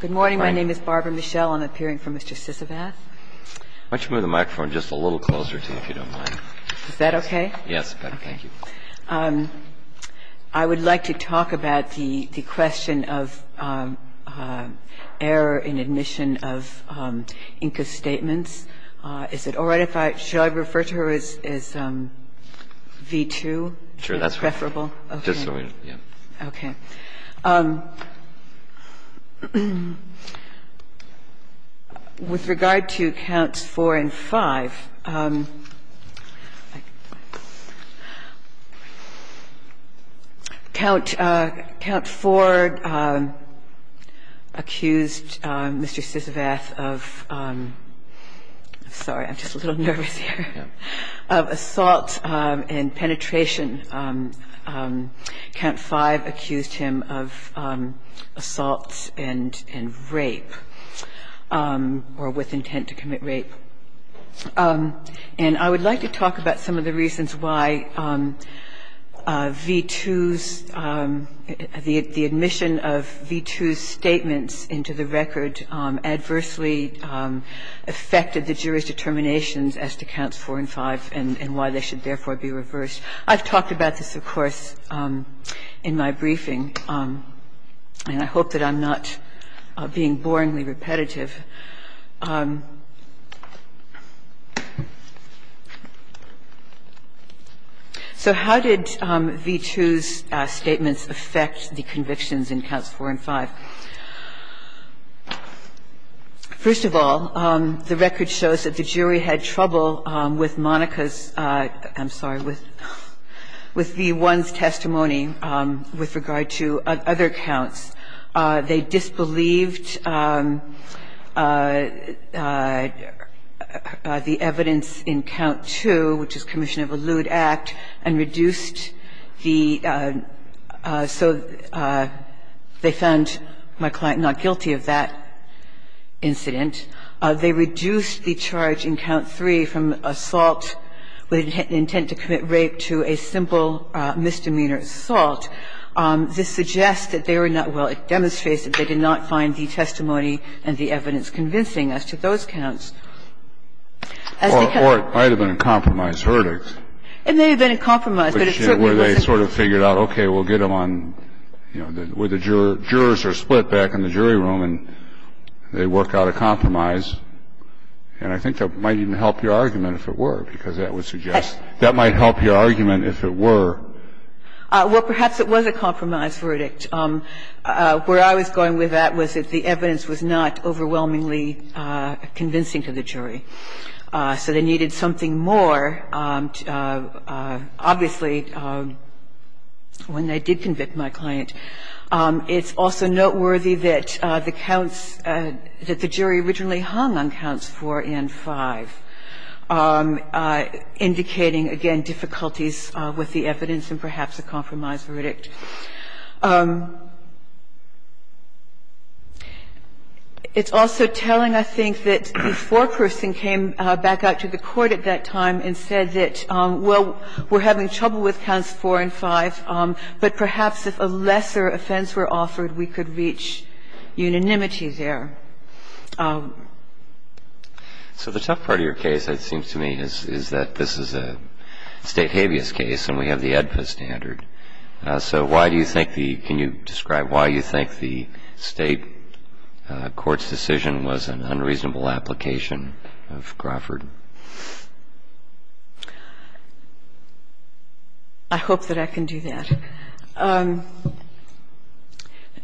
Good morning. My name is Barbara Michelle. I'm appearing for Mr. Sisavath. Why don't you move the microphone just a little closer to you, if you don't mind. Is that OK? Yes, thank you. I would like to talk about the question of error in admission of INCA statements. Is it all right if I, shall I refer to her as V2? Sure, that's fine. Preferable? Just a minute. OK. With regard to counts four and five, count four accused Mr. Sisavath of, sorry, I'm just a little nervous here, of assault and penetration. Count five accused him of assault and rape, or with intent to commit rape. And I would like to talk about some of the reasons why V2's, the admission of V2's statements into the record adversely affected the jury's determinations as to counts four and five and why they should therefore be reversed. I've talked about this, of course, in my briefing. And I hope that I'm not being boringly repetitive. So how did V2's statements affect the convictions in counts four and five? First of all, the record shows that the jury had trouble with Monica's, I'm sorry, with V1's testimony with regard to other counts. They disbelieved the evidence in count two, which is commission of allude act, and reduced the, so they found my client not guilty of that incident. They reduced the charge in count three from assault with intent to commit rape to a simple misdemeanor assault. This suggests that they were not, well, it demonstrates that they did not find the testimony and the evidence convincing as to those counts. As the counts were, it may have been a compromise, a verdict. It may have been a compromise, but it certainly wasn't. Where they sort of figured out, okay, we'll get them on, you know, where the jurors are split back in the jury room, and they work out a compromise. And I think that might even help your argument, if it were, because that would suggest that might help your argument, if it were. Well, perhaps it was a compromise verdict. Where I was going with that was that the evidence was not overwhelmingly convincing to the jury. So they needed something more, obviously, when they did convict my client. It's also noteworthy that the counts, that the jury originally hung on counts four and five, indicating, again, difficulties with the evidence and perhaps a compromise verdict. It's also telling, I think, that the foreperson came back out to the court at that time and said that, well, we're having trouble with counts four and five, but perhaps if a lesser offense were offered, we could reach unanimity there. So the tough part of your case, it seems to me, is that this is a State habeas case, and we have the AEDPA standard. So why do you think the – can you describe why you think the State court's decision was an unreasonable application of Crawford? I hope that I can do that.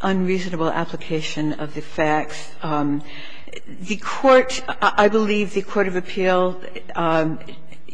Unreasonable application of the facts. The court, I believe the court of appeal –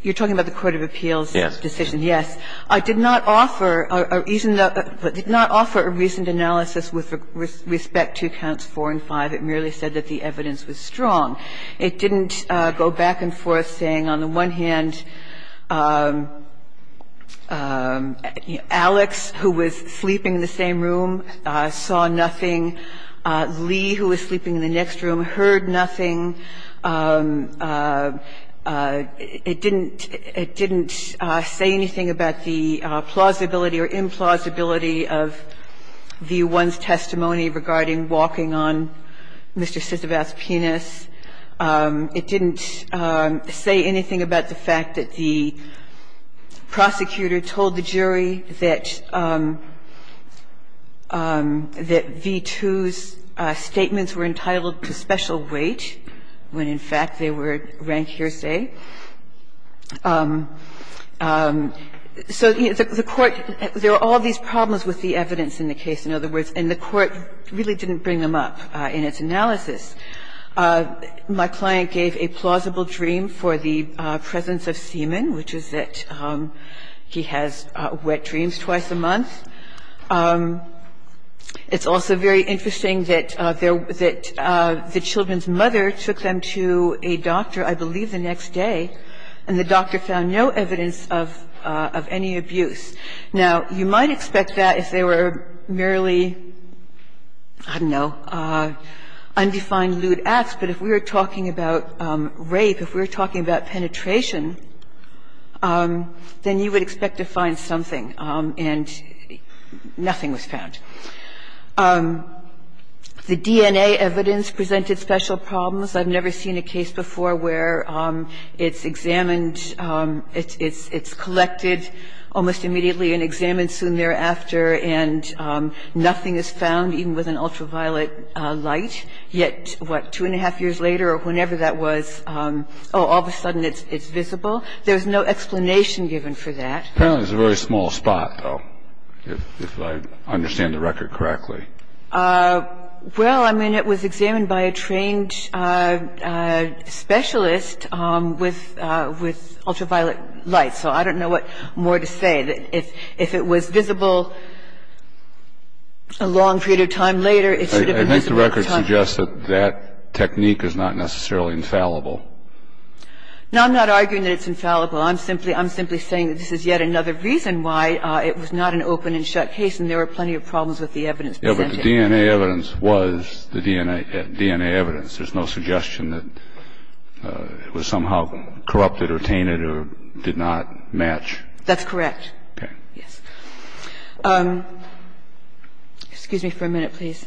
you're talking about the court of appeal's decision. Yes. It did not offer a reasoned analysis with respect to counts four and five. It merely said that the evidence was strong. It didn't go back and forth saying, on the one hand, Alex, who was sleeping in the same room, saw nothing, Lee, who was sleeping in the next room, heard nothing. It didn't – it didn't say anything about the plausibility or implausibility of the one's testimony regarding walking on Mr. Sisevat's penis. It didn't say anything about the fact that the prosecutor told the jury that V2's statements were entitled to special weight when, in fact, they were rank hearsay. So the court – there are all these problems with the evidence in the case, in other words, and the court really didn't bring them up in its analysis. My client gave a plausible dream for the presence of semen, which is that he has wet dreams twice a month. It's also very interesting that the children's mother took them to a doctor, I believe, the next day, and the doctor found no evidence of any abuse. Now, you might expect that if they were merely, I don't know, undefined lewd acts, but if we were talking about rape, if we were talking about penetration, then you would expect to find something, and nothing was found. The DNA evidence presented special problems. I've never seen a case before where it's examined, it's collected almost immediately and examined soon thereafter, and nothing is found, even with an ultraviolet light. Yet, what, two and a half years later or whenever that was, oh, all of a sudden it's visible. There's no explanation given for that. Apparently, it's a very small spot, though, if I understand the record correctly. Well, I mean, it was examined by a trained specialist with ultraviolet light, so I don't know what more to say. If it was visible a long period of time later, it should have been visible at the time. I think the record suggests that that technique is not necessarily infallible. No, I'm not arguing that it's infallible. I'm simply saying that this is yet another reason why it was not an open and shut case, and there were plenty of problems with the evidence presented. Yeah, but the DNA evidence was the DNA evidence. There's no suggestion that it was somehow corrupted or tainted or did not match. That's correct. Okay. Yes. Excuse me for a minute, please.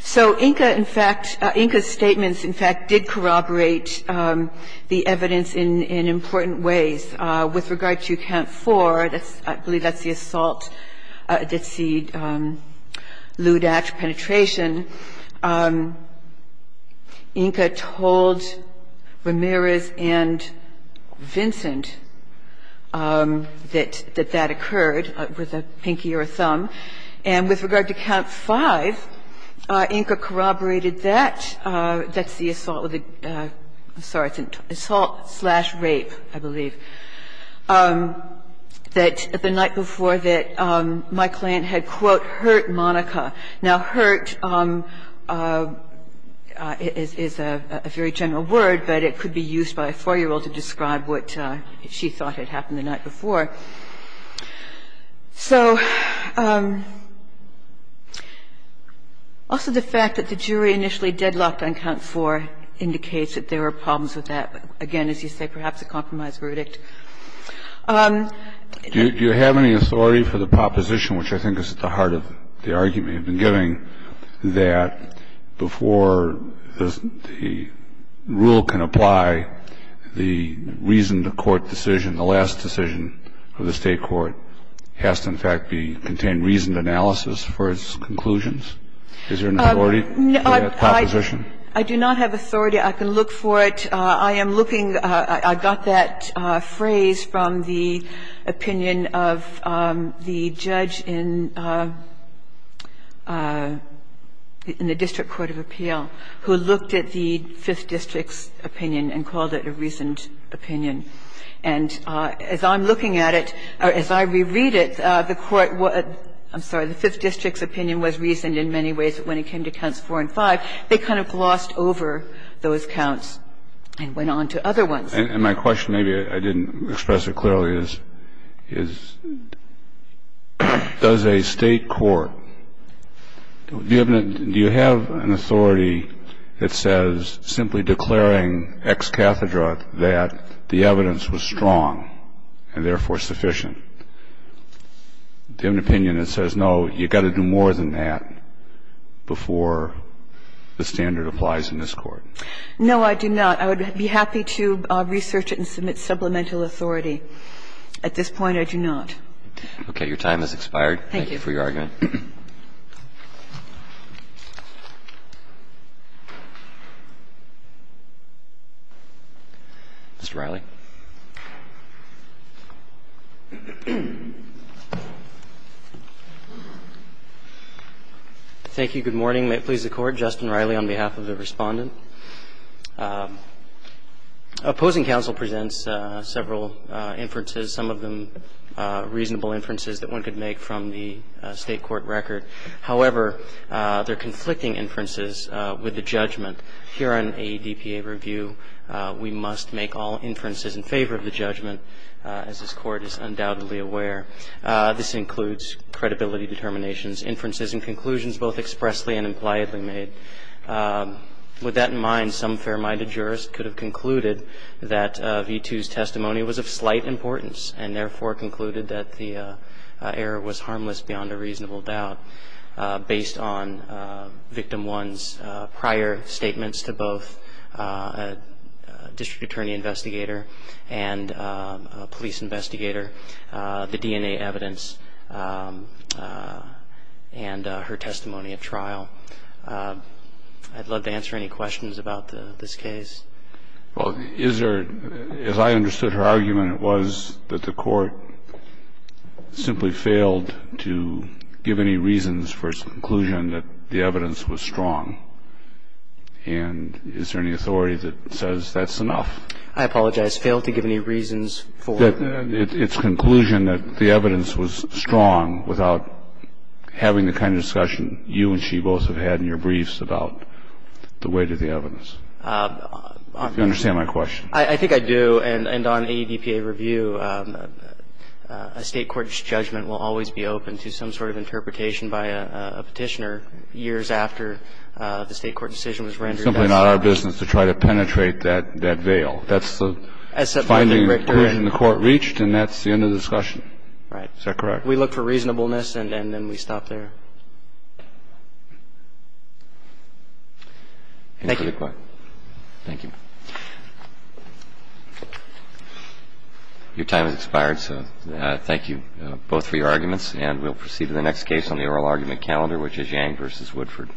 So INCA, in fact, INCA's statements, in fact, did corroborate the evidence in important ways. With regard to Count 4, I believe that's the assault, that's the Lou Dach penetration. INCA told Ramirez and Vincent that that occurred with a pinky or a thumb. And with regard to Count 5, INCA corroborated that, that's the assault with a, I'm sorry, it's an assault slash rape, I believe, that the night before that my client had, quote, hurt Monica. Now, hurt is a very general word, but it could be used by a 4-year-old to describe what she thought had happened the night before. So also the fact that the jury initially deadlocked on Count 4 indicates that there were problems with that, again, as you say, perhaps a compromise verdict. Do you have any authority for the proposition, which I think is at the heart of the argument you've been giving, that before the rule can apply, the reason the court decision, the last decision of the State court has to, in fact, contain reasoned analysis for its conclusions? Is there an authority for that proposition? I do not have authority. I can look for it. I am looking, I got that phrase from the opinion of the judge in the District Court of Appeal, who looked at the Fifth District's opinion and called it a reasoned And as I'm looking at it, or as I reread it, the court, I'm sorry, the Fifth District's opinion was reasoned in many ways. But when it came to Counts 4 and 5, they kind of glossed over those counts and went on to other ones. And my question, maybe I didn't express it clearly, is does a State court, do you have an authority that says simply declaring ex cathedra that the evidence was strong and therefore sufficient? Do you have an opinion that says, no, you've got to do more than that before the standard applies in this court? No, I do not. I would be happy to research it and submit supplemental authority. At this point, I do not. Okay. Your time has expired. Thank you for your argument. Mr. Reilly. Thank you. Good morning. May it please the Court. Justin Reilly on behalf of the Respondent. Opposing counsel presents several inferences, some of them reasonable inferences that one could make from the State court record. However, they're conflicting inferences with the judgment. Here on a DPA review, we must make all inferences in favor of the judgment, as this Court is undoubtedly aware. This includes credibility determinations, inferences and conclusions both expressly and impliedly made. With that in mind, some fair-minded jurist could have concluded that V2's testimony was of slight importance and therefore concluded that the error was harmless beyond a reasonable doubt based on Victim 1's prior statements to both a district attorney investigator and a police investigator, the DNA evidence and her testimony at trial. I'd love to answer any questions about this case. Well, is there, as I understood her argument, it was that the Court simply failed to give any reasons for its conclusion that the evidence was strong. And is there any authority that says that's enough? I apologize. Failed to give any reasons for? Its conclusion that the evidence was strong without having the kind of discussion you and she both have had in your briefs about the weight of the evidence. Do you understand my question? I think I do. And on AEBPA review, a State court's judgment will always be open to some sort of interpretation by a Petitioner years after the State court decision was rendered. It's simply not our business to try to penetrate that veil. That's the finding the Court reached, and that's the end of the discussion. Right. Is that correct? We look for reasonableness, and then we stop there. Thank you. Your time has expired, so thank you both for your arguments, and we'll proceed to the next case on the oral argument calendar, which is Yang v. Woodford.